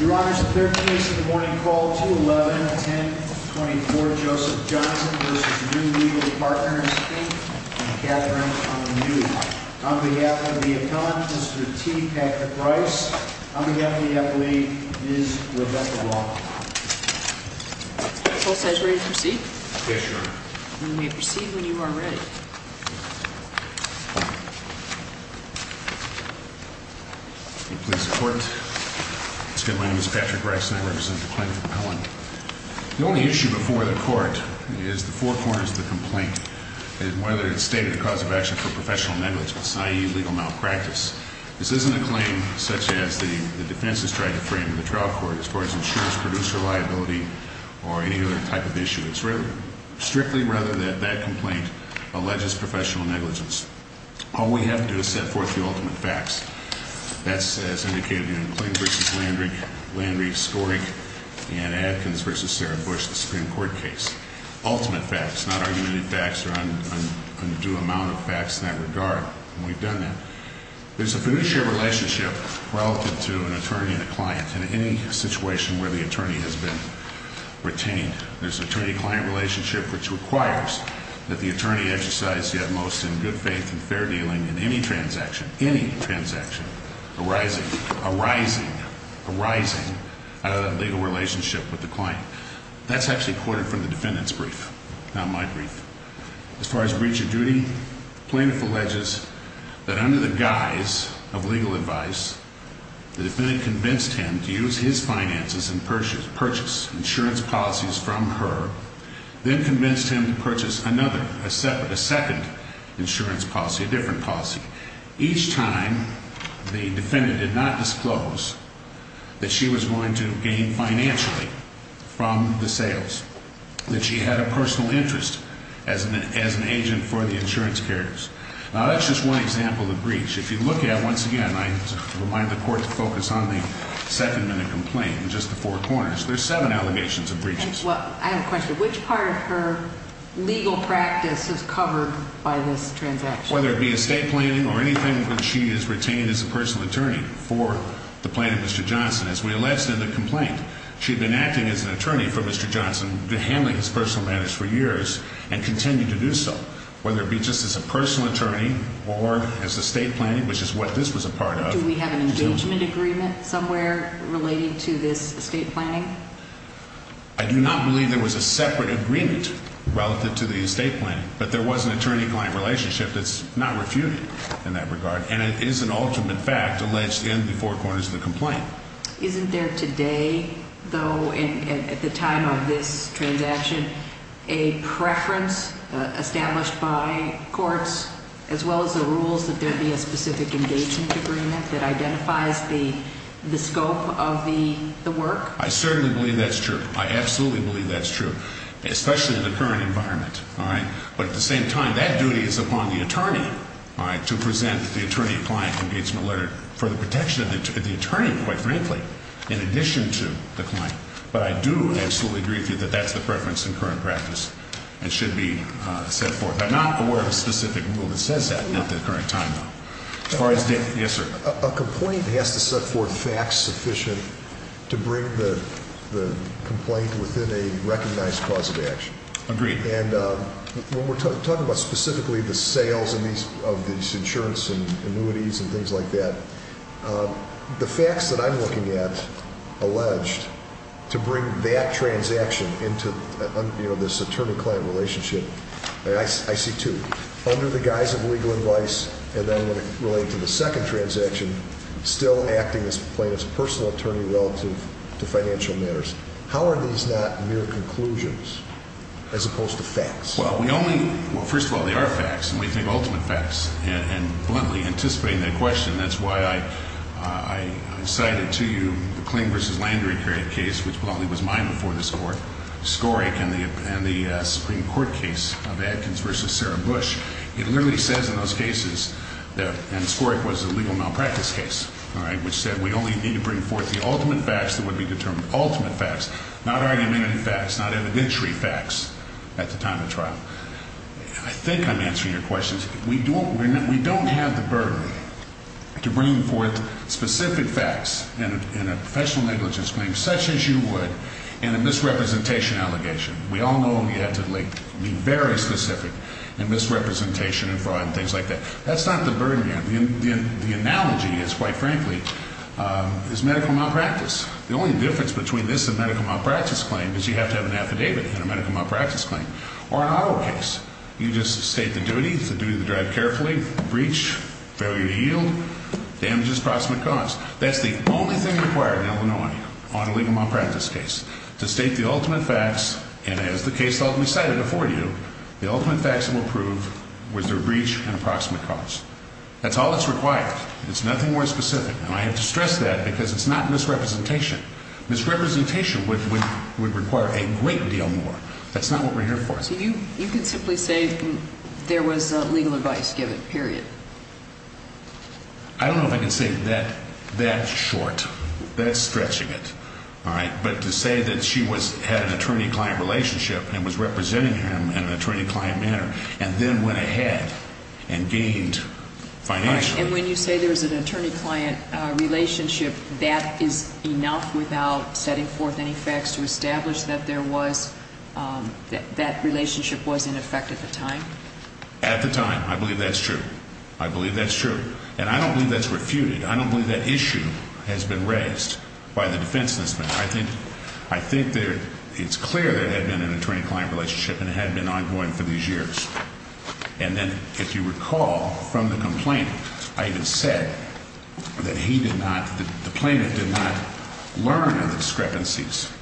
Your Honor, it's the 13th case of the morning. Call 211, 1024 Joseph Johnson v. Niew Legal Partners. Thank you. I'm Catherine. I'm a newbie. On behalf of the appellant, Mr. T. Patrick Rice. On behalf of the appellee, Ms. Rebecca Lawton. The court says we're ready to proceed. Yes, Your Honor. You may proceed when you are ready. Please support. My name is Patrick Rice, and I represent the plaintiff appellant. The only issue before the court is the four corners of the complaint, and whether it's stated the cause of action for professional negligence, i.e. legal malpractice. This isn't a claim such as the defense has tried to frame in the trial court as far as insurance producer liability or any other type of issue. It's strictly rather that that complaint alleges professional negligence. All we have to do is set forth the ultimate facts. That's as indicated in McLean v. Landry, Landry scoring Anne Adkins v. Sarah Bush, the Supreme Court case. Ultimate facts, not argumentative facts or undue amount of facts in that regard. And we've done that. There's a fiduciary relationship relative to an attorney and a client in any situation where the attorney has been retained. There's an attorney-client relationship which requires that the attorney exercise yet most in good faith and fair dealing in any transaction, any transaction arising, arising, arising out of that legal relationship with the client. That's actually quoted from the defendant's brief, not my brief. As far as breach of duty, the plaintiff alleges that under the guise of legal advice, the defendant convinced him to use his finances and purchase insurance policies from her, then convinced him to purchase another, a second insurance policy, a different policy. Each time the defendant did not disclose that she was going to gain financially from the sales, that she had a personal interest as an agent for the insurance carriers. If you look at, once again, I remind the Court to focus on the second minute complaint in just the four corners. There's seven allegations of breaches. I have a question. Which part of her legal practice is covered by this transaction? Whether it be estate planning or anything when she is retained as a personal attorney for the plaintiff, Mr. Johnson. As we alleged in the complaint, she had been acting as an attorney for Mr. Johnson, handling his personal matters for years and continued to do so. Whether it be just as a personal attorney or as estate planning, which is what this was a part of. Do we have an engagement agreement somewhere relating to this estate planning? I do not believe there was a separate agreement relative to the estate planning, but there was an attorney-client relationship that's not refuted in that regard, and it is an ultimate fact alleged in the four corners of the complaint. Isn't there today, though, at the time of this transaction, a preference established by courts, as well as the rules that there be a specific engagement agreement that identifies the scope of the work? I certainly believe that's true. I absolutely believe that's true, especially in the current environment. But at the same time, that duty is upon the attorney to present the attorney-client engagement letter for the protection of the attorney, quite frankly, in addition to the client. But I do absolutely agree with you that that's the preference in current practice and should be set forth. I'm not aware of a specific rule that says that at the current time, though. As far as date, yes, sir. A complaint has to set forth facts sufficient to bring the complaint within a recognized cause of action. Agreed. When we're talking about specifically the sales of these insurance and annuities and things like that, the facts that I'm looking at alleged to bring that transaction into this attorney-client relationship, I see two, under the guise of legal advice and then related to the second transaction, still acting as plaintiff's personal attorney relative to financial matters. How are these not mere conclusions as opposed to facts? Well, first of all, they are facts, and we think ultimate facts. And bluntly, anticipating that question, that's why I cited to you the Kling v. Landry case, which bluntly was mine before this Court, Skorik and the Supreme Court case of Adkins v. Sarah Bush. It literally says in those cases that, and Skorik was a legal malpractice case, all right, which said we only need to bring forth the ultimate facts that would be determined. Ultimate facts, not argumentative facts, not evidentiary facts at the time of trial. I think I'm answering your questions. We don't have the burden to bring forth specific facts in a professional negligence claim such as you would in a misrepresentation allegation. We all know you have to be very specific in misrepresentation and fraud and things like that. That's not the burden here. The analogy is, quite frankly, is medical malpractice. The only difference between this and a medical malpractice claim is you have to have an affidavit in a medical malpractice claim or an auto case. You just state the duty, it's the duty to drive carefully, breach, failure to yield, damages, approximate cause. That's the only thing required in Illinois on a legal malpractice case, to state the ultimate facts, and as the case ultimately cited before you, the ultimate facts will prove was there breach and approximate cause. That's all that's required. It's nothing more specific, and I have to stress that because it's not misrepresentation. Misrepresentation would require a great deal more. That's not what we're here for. So you can simply say there was legal advice given, period. I don't know if I can say that short, that stretching it, all right, but to say that she had an attorney-client relationship and was representing him in an attorney-client manner and then went ahead and gained financially. And when you say there was an attorney-client relationship, that is enough without setting forth any facts to establish that that relationship was in effect at the time? At the time. I believe that's true. I believe that's true. And I don't believe that's refuted. I don't believe that issue has been raised by the defense in this matter. I think it's clear there had been an attorney-client relationship and it had been ongoing for these years. And then if you recall from the complaint, I even said that he did not, the plaintiff did not learn of the discrepancies,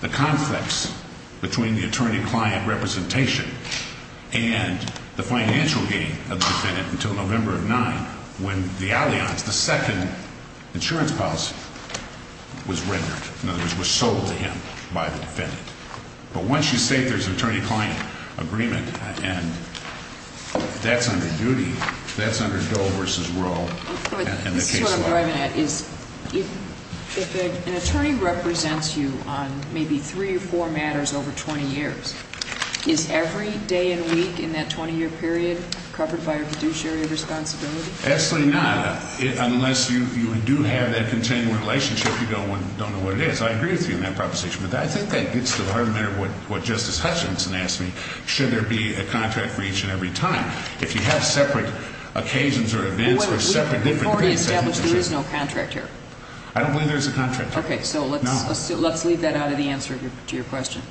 the conflicts between the attorney-client representation and the financial gain of the defendant until November of 9 when the alliance, the second insurance policy was rendered, in other words was sold to him by the defendant. But once you say there's an attorney-client agreement and that's under duty, that's under Doe versus Rowe and the case law. This is what I'm driving at is if an attorney represents you on maybe three or four matters over 20 years, is every day and week in that 20-year period covered by a fiduciary responsibility? Absolutely not. Unless you do have that continual relationship, you don't know what it is. I agree with you on that proposition. But I think that gets to the heart of the matter of what Justice Hutchinson asked me, should there be a contract for each and every time? If you have separate occasions or events or separate different events. Before we establish there is no contract here. I don't believe there is a contract here. Okay. So let's leave that out of the answer to your question.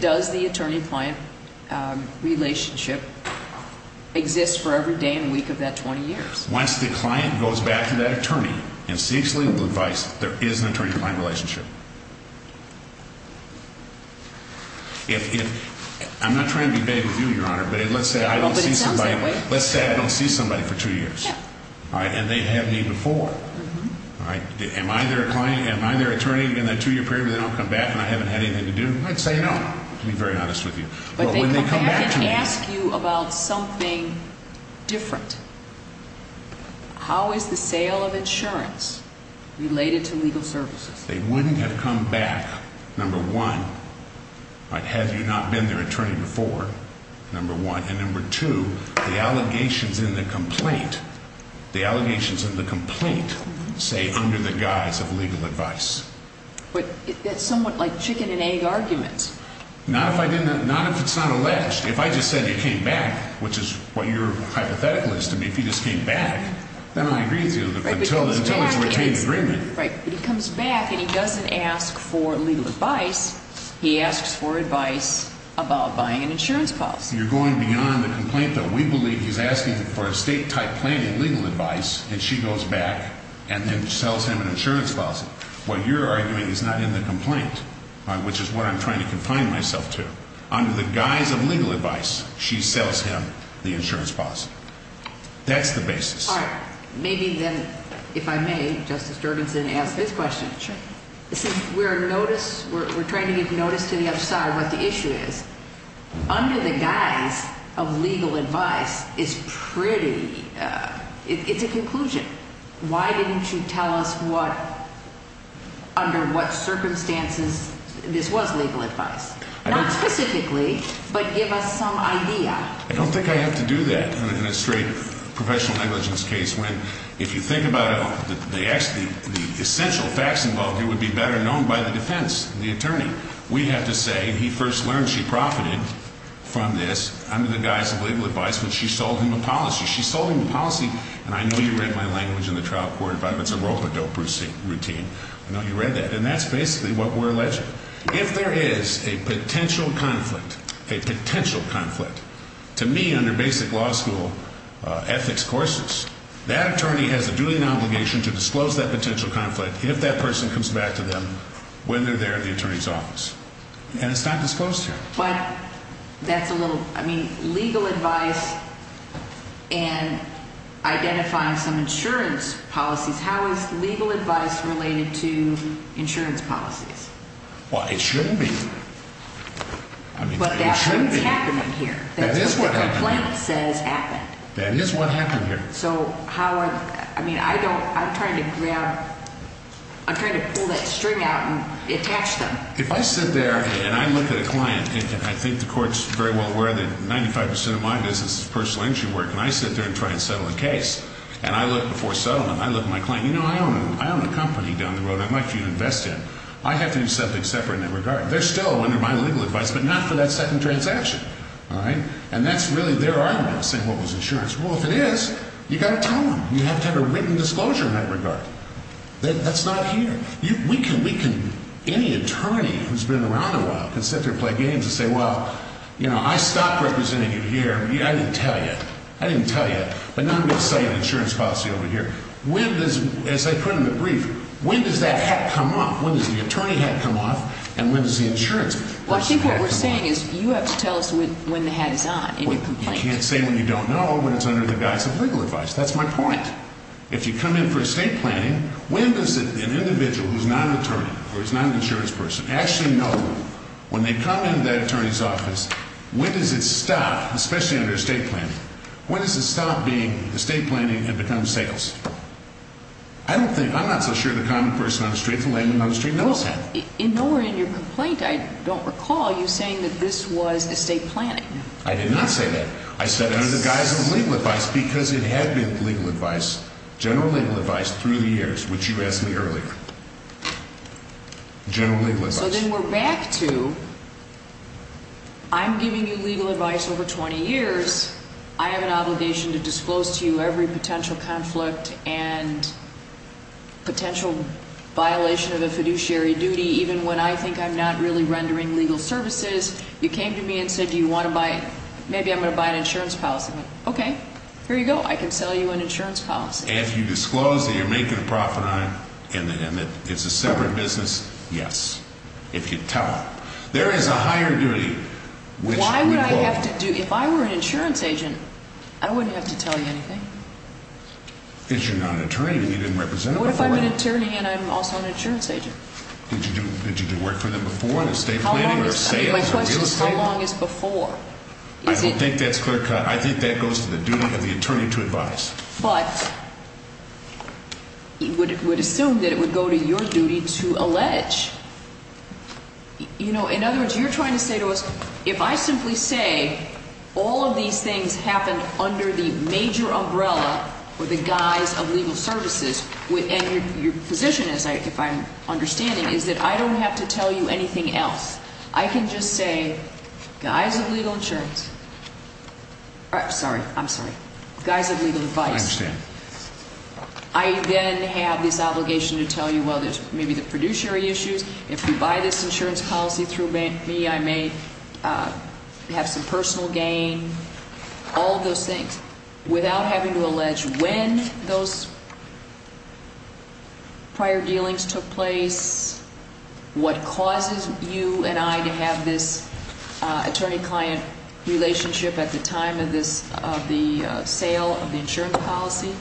Does the attorney-client relationship exist for every day and week of that 20 years? Once the client goes back to that attorney and seeks legal advice, there is an attorney-client relationship. I'm not trying to be vague with you, Your Honor, but let's say I don't see somebody for two years. Yeah. And they have me before. Am I their attorney in that two-year period where they don't come back and I haven't had anything to do? I'd say no, to be very honest with you. But they come back and ask you about something different. How is the sale of insurance related to legal services? They wouldn't have come back, number one, had you not been their attorney before, number one. And number two, the allegations in the complaint say under the guise of legal advice. But that's somewhat like chicken and egg arguments. Not if it's not alleged. If I just said you came back, which is what your hypothetical is to me, if you just came back, then I agree with you until there's a retained agreement. Right. But he comes back and he doesn't ask for legal advice. He asks for advice about buying an insurance policy. You're going beyond the complaint that we believe he's asking for estate-type planning legal advice, and she goes back and then sells him an insurance policy. What you're arguing is not in the complaint, which is what I'm trying to confine myself to. Under the guise of legal advice, she sells him the insurance policy. That's the basis. All right. Maybe then, if I may, Justice Jurgensen, ask this question. Sure. We're trying to give notice to the other side what the issue is. Under the guise of legal advice, it's a conclusion. Why didn't you tell us under what circumstances this was legal advice? Not specifically, but give us some idea. I don't think I have to do that in a straight professional negligence case when, if you think about it, the essential facts involved here would be better known by the defense, the attorney. We have to say he first learned she profited from this under the guise of legal advice when she sold him a policy. She sold him a policy, and I know you read my language in the trial court about it's a rope-a-dope routine. I know you read that. And that's basically what we're alleging. If there is a potential conflict, a potential conflict, to me, under basic law school ethics courses, that attorney has a duty and obligation to disclose that potential conflict if that person comes back to them when they're there at the attorney's office. And it's not disclosed here. But that's a little – I mean, legal advice and identifying some insurance policies, how is legal advice related to insurance policies? Well, it should be. I mean, it should be. But that's what's happening here. That is what happened. That's what the complaint says happened. That is what happened here. So how are – I mean, I don't – I'm trying to grab – I'm trying to pull that string out and attach them. If I sit there and I look at a client, and I think the court's very well aware that 95% of my business is personal injury work, and I sit there and try and settle a case, and I look before settlement, I look at my client, you know, I own a company down the road I'd like you to invest in. I have to do something separate in that regard. They're still under my legal advice, but not for that second transaction. All right? And that's really their argument, saying what was insurance. Well, if it is, you've got to tell them. You have to have a written disclosure in that regard. That's not here. We can – any attorney who's been around a while can sit there and play games and say, well, you know, I stopped representing you here. I didn't tell you. I didn't tell you. But now I'm going to say an insurance policy over here. As I put in the brief, when does that hat come off? When does the attorney hat come off, and when does the insurance policy hat come off? Well, I think what we're saying is you have to tell us when the hat is on in your complaint. I can't say when you don't know, but it's under the guise of legal advice. That's my point. If you come in for estate planning, when does an individual who's not an attorney or is not an insurance person actually know when they come into that attorney's office, when does it stop, especially under estate planning? When does it stop being estate planning and become sales? I don't think – I'm not so sure the common person on the streets of Lansing on the street knows that. In your complaint, I don't recall you saying that this was estate planning. I did not say that. I said it under the guise of legal advice because it had been legal advice, general legal advice, through the years, which you asked me earlier. General legal advice. So then we're back to I'm giving you legal advice over 20 years. I have an obligation to disclose to you every potential conflict and potential violation of a fiduciary duty, even when I think I'm not really rendering legal services. You came to me and said, do you want to buy – maybe I'm going to buy an insurance policy. Okay, here you go. I can sell you an insurance policy. If you disclose that you're making a profit on it and that it's a separate business, yes, if you tell them. There is a higher duty. Why would I have to do – if I were an insurance agent, I wouldn't have to tell you anything. Because you're not an attorney and you didn't represent them before. What if I'm an attorney and I'm also an insurance agent? Did you do work for them before in estate planning or sales or real estate? My question is how long is before? I don't think that's clear cut. I think that goes to the duty of the attorney to advise. But it would assume that it would go to your duty to allege. You know, in other words, you're trying to say to us, if I simply say all of these things happen under the major umbrella or the guise of legal services, and your position is, if I'm understanding, is that I don't have to tell you anything else. I can just say, guise of legal insurance – sorry, I'm sorry. Guise of legal advice. I understand. I then have this obligation to tell you, well, there's maybe the fiduciary issues. If you buy this insurance policy through me, I may have some personal gain. Without having to allege when those prior dealings took place, what causes you and I to have this attorney-client relationship at the time of the sale of the insurance policy?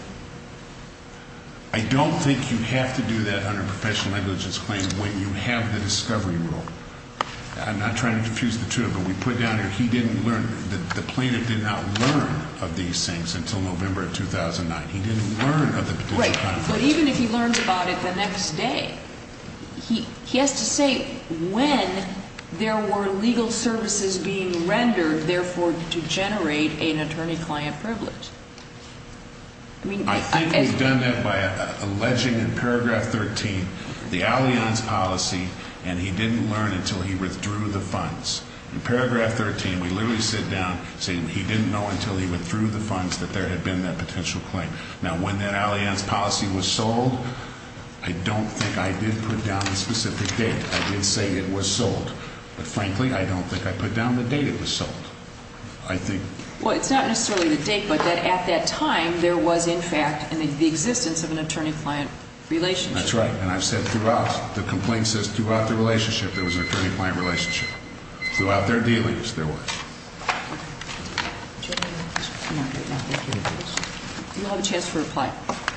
I don't think you have to do that under a professional negligence claim when you have the discovery rule. I'm not trying to diffuse the two, but we put down here he didn't learn – the plaintiff did not learn of these things until November of 2009. He didn't learn of the fiduciary claims. Right. But even if he learns about it the next day, he has to say when there were legal services being rendered, therefore, to generate an attorney-client privilege. I think we've done that by alleging in paragraph 13 the Allianz policy, and he didn't learn until he withdrew the funds. In paragraph 13, we literally sit down saying he didn't know until he withdrew the funds that there had been that potential claim. Now, when that Allianz policy was sold, I don't think I did put down the specific date. I did say it was sold, but frankly, I don't think I put down the date it was sold. Well, it's not necessarily the date, but at that time, there was, in fact, the existence of an attorney-client relationship. That's right, and I've said throughout. The complaint says throughout the relationship, there was an attorney-client relationship. Throughout their dealings, there was.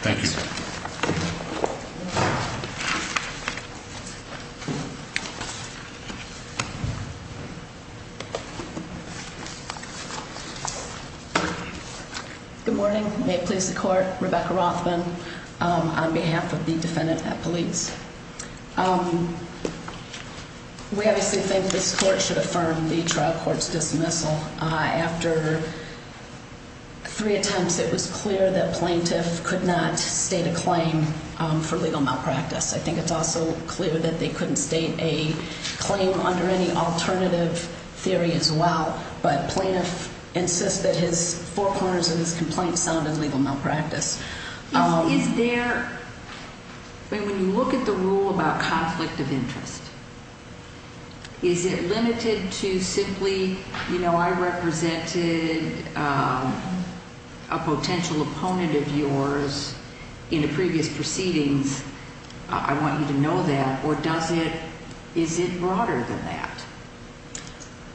Thank you. Good morning. May it please the court. Rebecca Rothman on behalf of the defendant at police. We obviously think this court should affirm the trial court's dismissal. After three attempts, it was clear that plaintiff could not state a claim for legal malpractice. I think it's also clear that they couldn't state a claim under any alternative theory as well, but plaintiff insists that his four corners of his complaint sounded legal malpractice. Is there, when you look at the rule about conflict of interest, is it limited to simply, you know, if I represented a potential opponent of yours in a previous proceedings, I want you to know that, or does it, is it broader than that?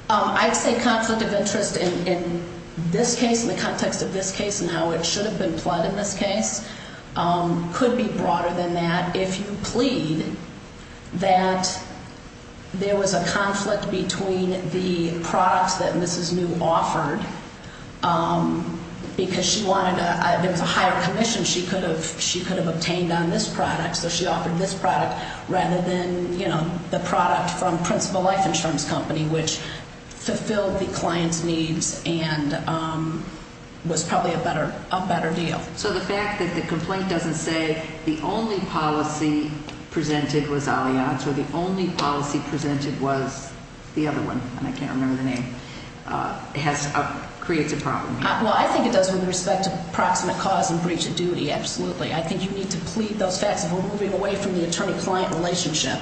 I'd say conflict of interest in this case, in the context of this case, and how it should have been plotted in this case, could be broader than that. If you plead that there was a conflict between the products that Mrs. New offered, because she wanted a, there was a higher commission she could have, she could have obtained on this product, so she offered this product rather than, you know, the product from Principal Life Insurance Company, which fulfilled the client's needs and was probably a better, a better deal. So the fact that the complaint doesn't say the only policy presented was Alianto, the only policy presented was the other one, and I can't remember the name, has, creates a problem. Well, I think it does with respect to proximate cause and breach of duty, absolutely. I think you need to plead those facts if we're moving away from the attorney-client relationship,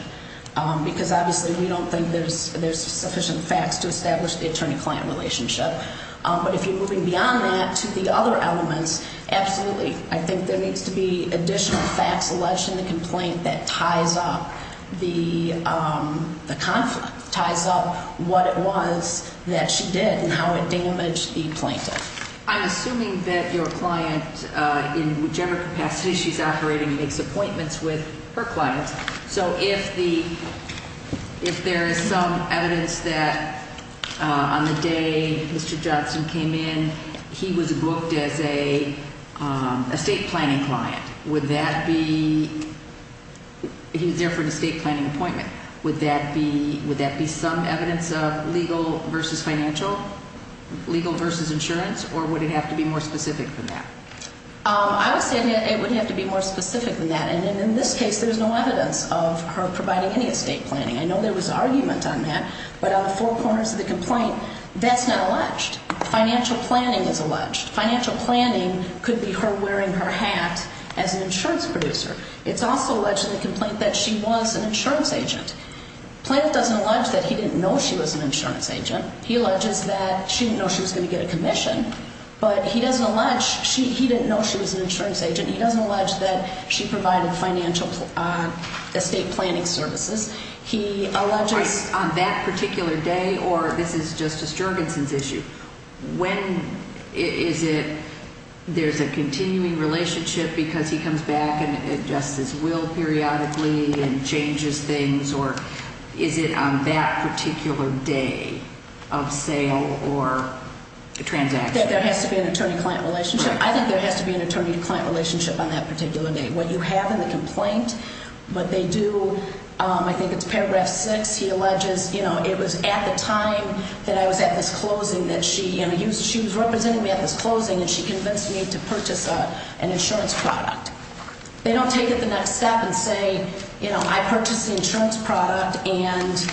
because obviously we don't think there's sufficient facts to establish the attorney-client relationship. But if you're moving beyond that to the other elements, absolutely. I think there needs to be additional facts alleged in the complaint that ties up the conflict, ties up what it was that she did and how it damaged the plaintiff. I'm assuming that your client, in whichever capacity she's operating, makes appointments with her clients. So if the, if there is some evidence that on the day Mr. Johnson came in, he was booked as a estate planning client, would that be, he was there for an estate planning appointment, would that be, would that be some evidence of legal versus financial, legal versus insurance, or would it have to be more specific than that? I would say it would have to be more specific than that. And in this case, there's no evidence of her providing any estate planning. I know there was argument on that, but on the four corners of the complaint, that's not alleged. Financial planning is alleged. Financial planning could be her wearing her hat as an insurance producer. It's also alleged in the complaint that she was an insurance agent. Plaintiff doesn't allege that he didn't know she was an insurance agent. He alleges that she didn't know she was going to get a commission. But he doesn't allege, he didn't know she was an insurance agent. He doesn't allege that she provided financial estate planning services. He alleges on that particular day, or this is Justice Jorgensen's issue, when is it, there's a continuing relationship because he comes back and adjusts his will periodically and changes things, or is it on that particular day of sale or transaction? That there has to be an attorney-client relationship. I think there has to be an attorney-client relationship on that particular day. What you have in the complaint, what they do, I think it's paragraph 6, he alleges, you know, it was at the time that I was at this closing that she, you know, she was representing me at this closing and she convinced me to purchase an insurance product. They don't take it the next step and say, you know, I purchased the insurance product and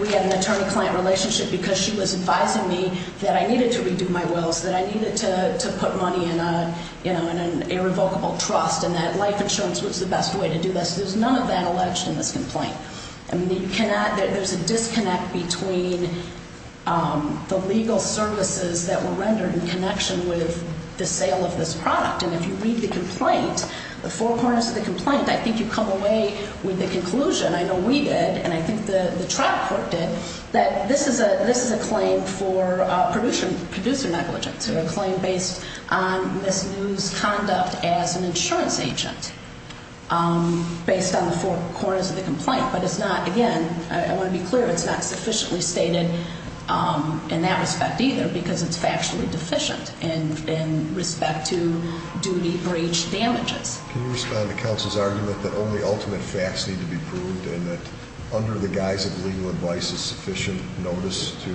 we had an attorney-client relationship because she was advising me that I needed to redo my wills, that I needed to put money in a, you know, in an irrevocable trust and that life insurance was the best way to do this. There's none of that alleged in this complaint. I mean, you cannot, there's a disconnect between the legal services that were rendered in connection with the sale of this product. And if you read the complaint, the four corners of the complaint, I think you come away with the conclusion, I know we did, and I think the trial court did, that this is a claim for producer negligence, or a claim based on misused conduct as an insurance agent based on the four corners of the complaint. But it's not, again, I want to be clear, it's not sufficiently stated in that respect either because it's factually deficient in respect to duty breach damages. Can you respond to counsel's argument that only ultimate facts need to be proved and that under the guise of legal advice is sufficient notice to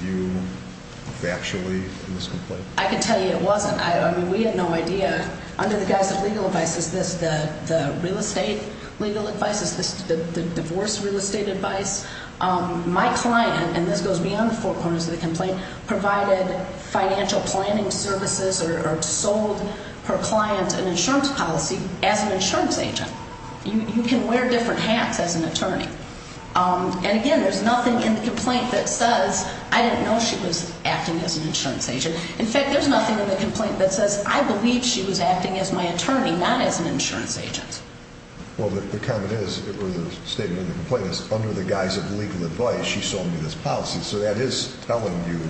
view factually in this complaint? I can tell you it wasn't. I mean, we had no idea. Under the guise of legal advice, is this the real estate legal advice? Is this the divorce real estate advice? My client, and this goes beyond the four corners of the complaint, provided financial planning services or sold her client an insurance policy as an insurance agent. You can wear different hats as an attorney. And again, there's nothing in the complaint that says, I didn't know she was acting as an insurance agent. In fact, there's nothing in the complaint that says, I believe she was acting as my attorney, not as an insurance agent. Well, the comment is, or the statement in the complaint is, under the guise of legal advice, she sold me this policy. So that is telling you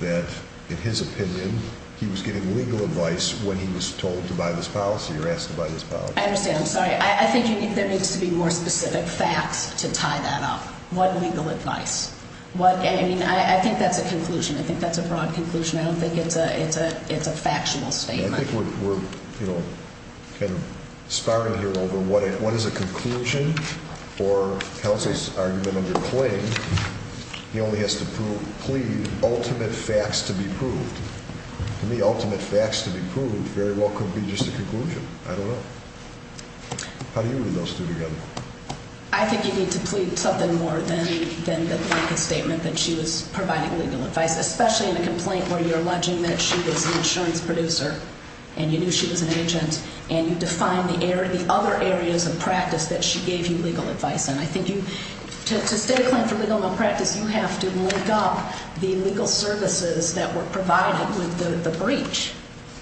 that, in his opinion, he was getting legal advice when he was told to buy this policy or asked to buy this policy. I understand. I'm sorry. I think there needs to be more specific facts to tie that up. What legal advice? I mean, I think that's a conclusion. I think that's a broad conclusion. I don't think it's a factual statement. I think we're kind of spiraling here over what is a conclusion or counsel's argument under claim. He only has to plead ultimate facts to be proved. To me, ultimate facts to be proved very well could be just a conclusion. I don't know. How do you read those two together? I think you need to plead something more than the blanket statement that she was providing legal advice, especially in a complaint where you're alleging that she was an insurance producer and you knew she was an agent and you define the other areas of practice that she gave you legal advice in. I think to state a claim for legal malpractice, you have to link up the legal services that were provided with the breach.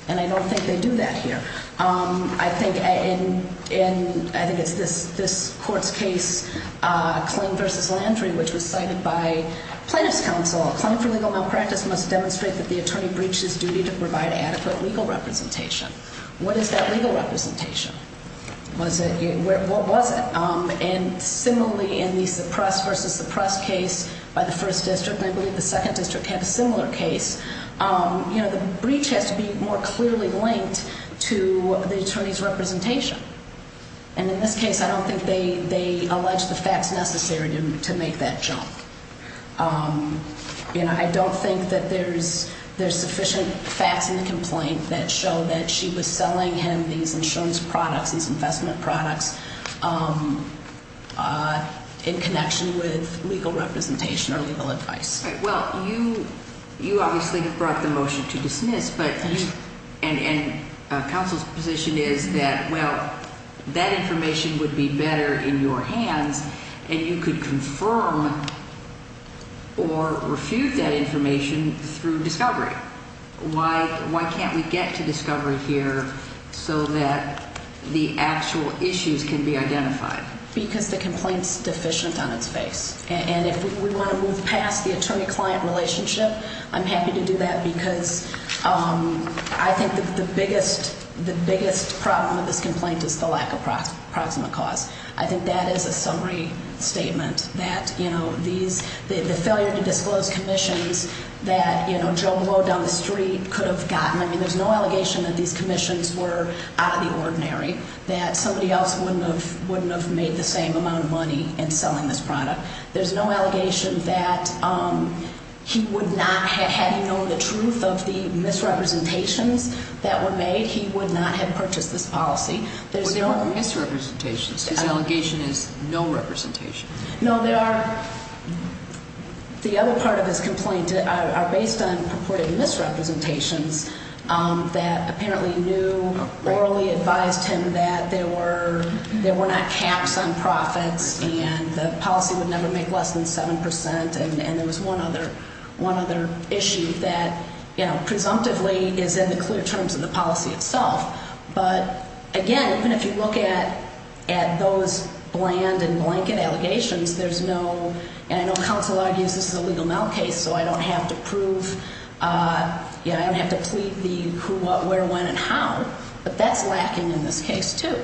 And I don't think they do that here. I think it's this court's case, Claim v. Landry, which was cited by plaintiff's counsel. Claim for legal malpractice must demonstrate that the attorney breached his duty to provide adequate legal representation. What is that legal representation? What was it? And similarly, in the suppressed v. suppressed case by the first district, and I believe the second district had a similar case, the breach has to be more clearly linked to the attorney's representation. And in this case, I don't think they allege the facts necessary to make that jump. I don't think that there's sufficient facts in the complaint that show that she was selling him these insurance products, these investment products, in connection with legal representation or legal advice. Well, you obviously brought the motion to dismiss, and counsel's position is that, well, that information would be better in your hands, and you could confirm or refute that information through discovery. Why can't we get to discovery here so that the actual issues can be identified? Because the complaint's deficient on its face. And if we want to move past the attorney-client relationship, I'm happy to do that, because I think that the biggest problem of this complaint is the lack of proximate cause. I think that is a summary statement, that the failure to disclose commissions that Joe Blow down the street could have gotten. I mean, there's no allegation that these commissions were out of the ordinary, that somebody else wouldn't have made the same amount of money in selling this product. There's no allegation that he would not have known the truth of the misrepresentations that were made. He would not have purchased this policy. Well, they weren't misrepresentations. His allegation is no representation. No, the other part of his complaint are based on purported misrepresentations that apparently knew, orally advised him that there were not caps on profits and the policy would never make less than 7 percent, and there was one other issue that presumptively is in the clear terms of the policy itself. But, again, even if you look at those bland and blanket allegations, there's no, and I know counsel argues this is a legal now case, so I don't have to prove, I don't have to plead the who, what, where, when, and how, but that's lacking in this case, too.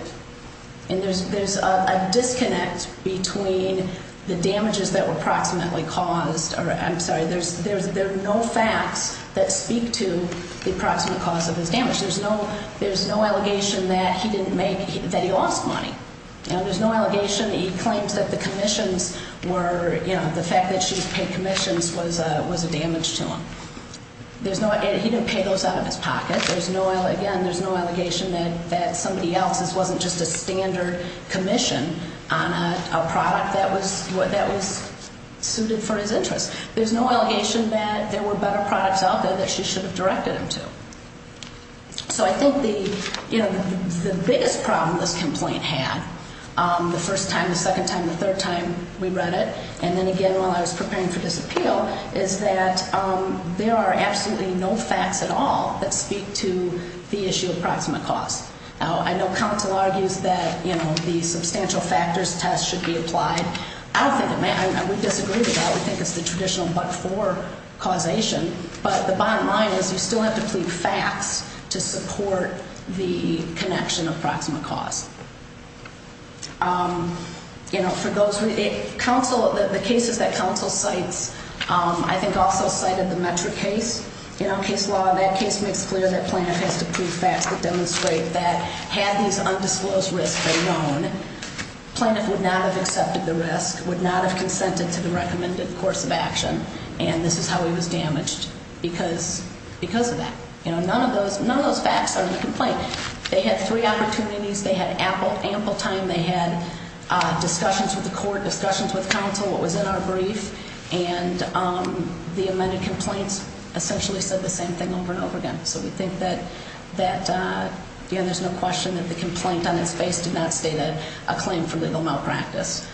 And there's a disconnect between the damages that were proximately caused, or I'm sorry, there are no facts that speak to the proximate cause of his damage. There's no allegation that he didn't make, that he lost money. There's no allegation that he claims that the commissions were, you know, the fact that she's paid commissions was a damage to him. He didn't pay those out of his pocket. There's no, again, there's no allegation that somebody else, this wasn't just a standard commission on a product that was suited for his interests. There's no allegation that there were better products out there that she should have directed him to. So I think the, you know, the biggest problem this complaint had, the first time, the second time, the third time we read it, and then again while I was preparing for this appeal, is that there are absolutely no facts at all that speak to the issue of proximate cause. I know counsel argues that, you know, the substantial factors test should be applied. I don't think it may, I would disagree with that. I would think it's the traditional but-for causation, but the bottom line is you still have to plead facts to support the connection of proximate cause. You know, for those, counsel, the cases that counsel cites, I think also cited the Metro case, you know, case law, that case makes clear that Planoff has to plead facts that demonstrate that had these undisclosed risks been known, that Planoff would not have accepted the risk, would not have consented to the recommended course of action, and this is how he was damaged because of that. You know, none of those facts are in the complaint. They had three opportunities. They had ample time. They had discussions with the court, discussions with counsel, what was in our brief, and the amended complaints essentially said the same thing over and over again. So we think that, you know, there's no question that the complaint on its face did not state a claim for legal malpractice.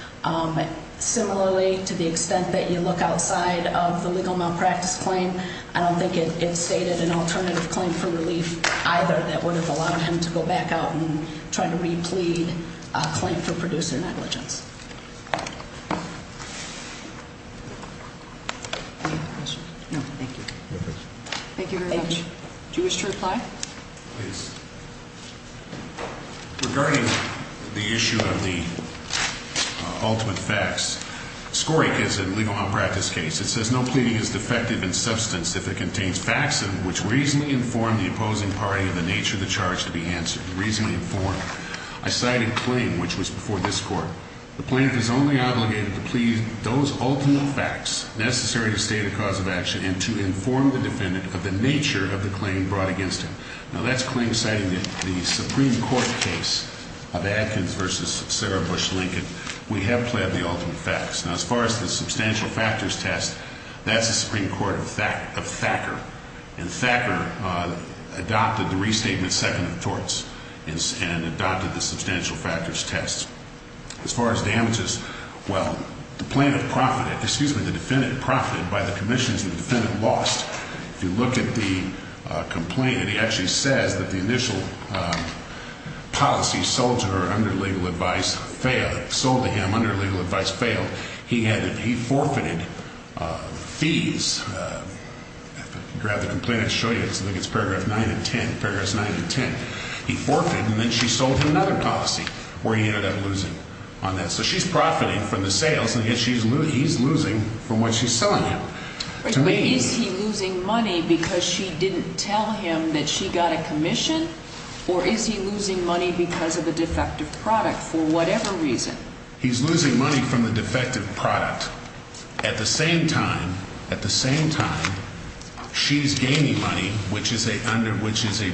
Similarly, to the extent that you look outside of the legal malpractice claim, I don't think it stated an alternative claim for relief either that would have allowed him to go back out and try to replead a claim for producer negligence. Any other questions? No, thank you. Thank you very much. Do you wish to reply? Please. Regarding the issue of the ultimate facts, scoring is a legal malpractice case. It says no pleading is defective in substance if it contains facts which reasonably inform the opposing party of the nature of the charge to be answered. Reasonably informed. I cited a claim which was before this court. The plaintiff is only obligated to plead those ultimate facts necessary to state a cause of action and to inform the defendant of the nature of the claim brought against him. Now, that's a claim citing the Supreme Court case of Adkins v. Sarah Bush Lincoln. We have pled the ultimate facts. Now, as far as the substantial factors test, that's the Supreme Court of Thacker. And Thacker adopted the restatement second of torts and adopted the substantial factors test. As far as damages, well, the plaintiff profited, excuse me, the defendant profited by the commissions the defendant lost. If you look at the complaint, it actually says that the initial policy sold to her under legal advice failed. Sold to him under legal advice failed. He forfeited fees. I'll grab the complaint and show you. I think it's paragraph 9 and 10. Paragraphs 9 and 10. He forfeited and then she sold him another policy where he ended up losing on that. So she's profiting from the sales and yet he's losing from what she's selling him. But is he losing money because she didn't tell him that she got a commission or is he losing money because of a defective product for whatever reason? He's losing money from the defective product. But at the same time, at the same time, she's gaining money, which is a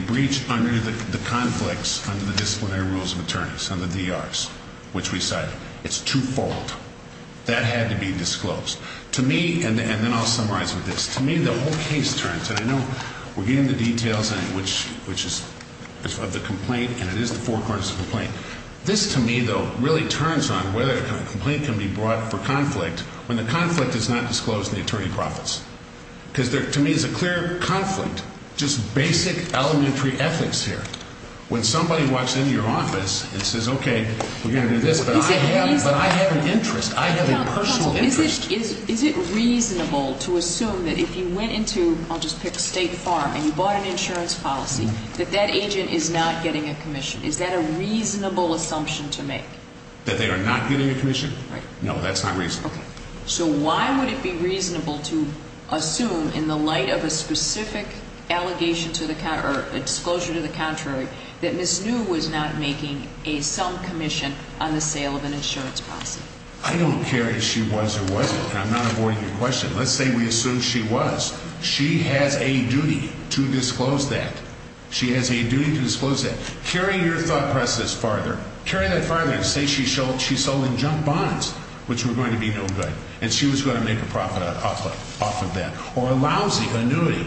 breach under the conflicts under the disciplinary rules of attorneys, under the DRs, which we cited. It's twofold. That had to be disclosed. To me, and then I'll summarize with this. To me, the whole case turns, and I know we're getting into details of the complaint and it is the four corners of the complaint. This to me, though, really turns on whether a complaint can be brought for conflict when the conflict is not disclosed and the attorney profits. Because to me it's a clear conflict, just basic elementary ethics here. When somebody walks into your office and says, okay, we're going to do this, but I have an interest. I have a personal interest. Is it reasonable to assume that if you went into, I'll just pick State Farm, and you bought an insurance policy, that that agent is not getting a commission? Is that a reasonable assumption to make? That they are not getting a commission? Right. No, that's not reasonable. Okay. So why would it be reasonable to assume in the light of a specific allegation to the, or disclosure to the contrary, that Ms. New was not making a, some commission on the sale of an insurance policy? I don't care if she was or wasn't, and I'm not avoiding your question. Let's say we assume she was. She has a duty to disclose that. She has a duty to disclose that. Carry your thought process farther. Carry that farther and say she sold in junk bonds, which were going to be no good, and she was going to make a profit off of that. Or a lousy annuity.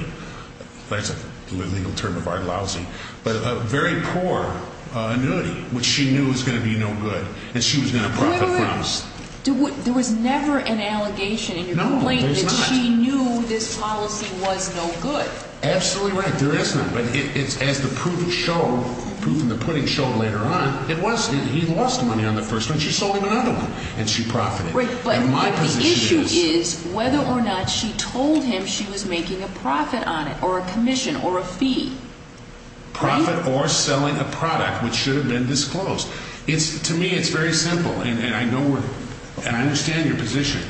That's a legal term of art, lousy. But a very poor annuity, which she knew was going to be no good, and she was going to profit from. There was never an allegation in your complaint that she knew this policy was no good. Absolutely right. There is not. But as the proof showed, proof in the pudding showed later on, it was. He lost money on the first one. She sold him another one, and she profited. But the issue is whether or not she told him she was making a profit on it or a commission or a fee. Profit or selling a product which should have been disclosed. To me, it's very simple, and I know we're, and I understand your position.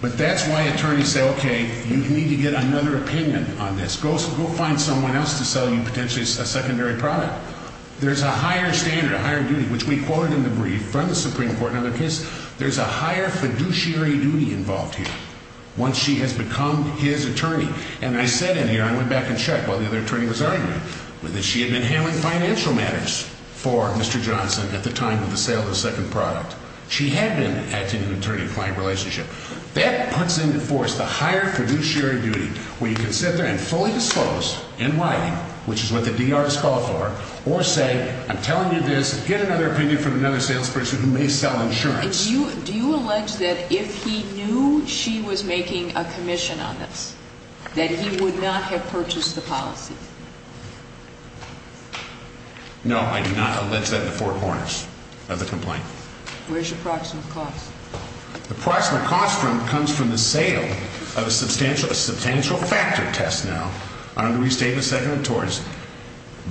But that's why attorneys say, okay, you need to get another opinion on this. Go find someone else to sell you potentially a secondary product. There's a higher standard, a higher duty, which we quoted in the brief from the Supreme Court in another case. There's a higher fiduciary duty involved here once she has become his attorney. And I said in here, I went back and checked while the other attorney was arguing, that she had been handling financial matters for Mr. Johnson at the time of the sale of the second product. She had been acting in an attorney-client relationship. That puts into force the higher fiduciary duty where you can sit there and fully dispose in writing, which is what the D.R. is called for, or say, I'm telling you this. Get another opinion from another salesperson who may sell insurance. Do you allege that if he knew she was making a commission on this, that he would not have purchased the policy? No, I do not allege that in the four corners of the complaint. Where's your approximate cost? The approximate cost comes from the sale of a substantial factor test now under Restatement Second of Tories.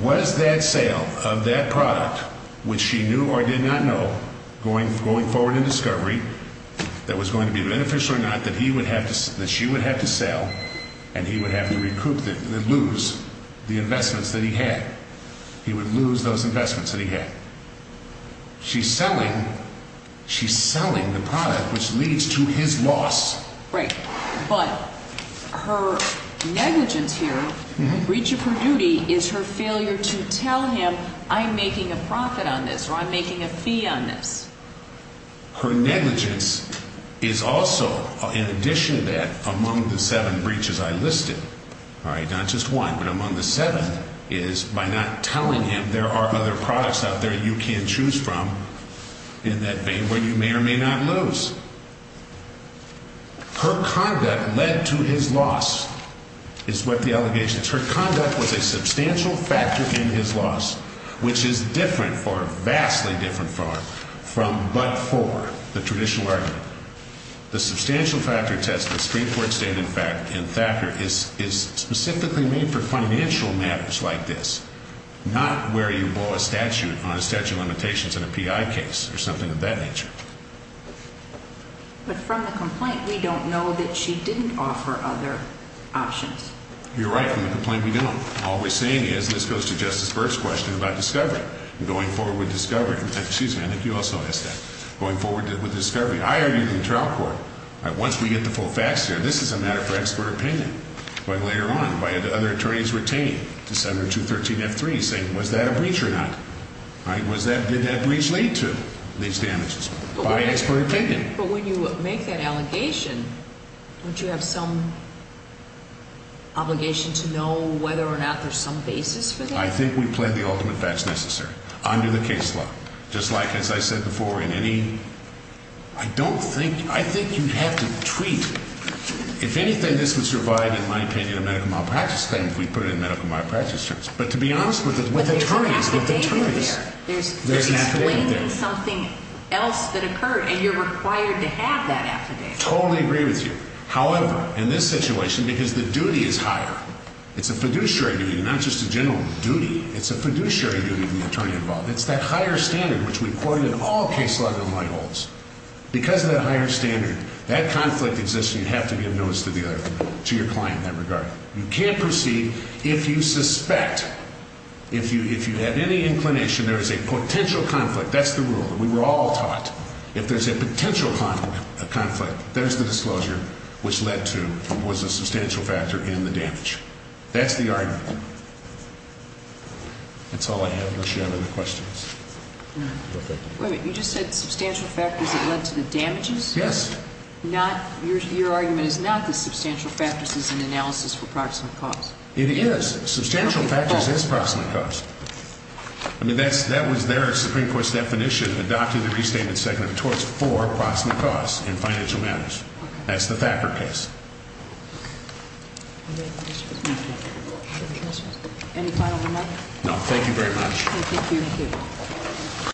Was that sale of that product, which she knew or did not know going forward in discovery, that was going to be beneficial or not, that she would have to sell and he would have to recoup, lose the investments that he had. He would lose those investments that he had. She's selling the product, which leads to his loss. Right, but her negligence here, the breach of her duty, is her failure to tell him, I'm making a profit on this or I'm making a fee on this. Her negligence is also, in addition to that, among the seven breaches I listed, all right, not just one, but among the seven is by not telling him there are other products out there you can choose from in that vein where you may or may not lose. Her conduct led to his loss is what the allegation is. Her conduct was a substantial factor in his loss, which is different, vastly different from but for, the traditional argument. The substantial factor test, the Supreme Court stated in fact, in Thacker, is specifically made for financial matters like this, not where you blow a statute on a statute of limitations in a PI case or something of that nature. But from the complaint, we don't know that she didn't offer other options. You're right, from the complaint, we don't. All we're saying is, and this goes to Justice Burke's question about discovery, going forward with discovery, excuse me, I think you also asked that, going forward with discovery. I argue in the trial court, once we get the full facts here, this is a matter for expert opinion. But later on, by other attorneys retained to Senator 213F3 saying, was that a breach or not? Did that breach lead to these damages? By expert opinion. But when you make that allegation, don't you have some obligation to know whether or not there's some basis for that? I think we plan the ultimate facts necessary under the case law. Just like, as I said before, in any, I don't think, I think you have to tweet. If anything, this would survive, in my opinion, a medical malpractice claim if we put it in medical malpractice terms. But to be honest with attorneys, with attorneys, there's an affidavit there. There's something else that occurred, and you're required to have that affidavit. Totally agree with you. However, in this situation, because the duty is higher, it's a fiduciary duty, not just a general duty. It's a fiduciary duty of the attorney involved. It's that higher standard, which we've quoted in all case law gun light holes. Because of that higher standard, that conflict exists, and you have to give notice to the other, to your client in that regard. You can't proceed if you suspect, if you have any inclination there is a potential conflict. That's the rule that we were all taught. If there's a potential conflict, there's the disclosure, which led to, was a substantial factor in the damage. That's the argument. That's all I have unless you have any questions. Wait a minute. You just said substantial factors that led to the damages? Yes. Your argument is not that substantial factors is an analysis for proximate cause. It is. Substantial factors is proximate cause. I mean, that was their Supreme Court's definition, adopting the Restatement Secondary Torts for proximate cause in financial matters. That's the Thacker case. Okay. Any final remarks? No. Thank you very much. Thank you.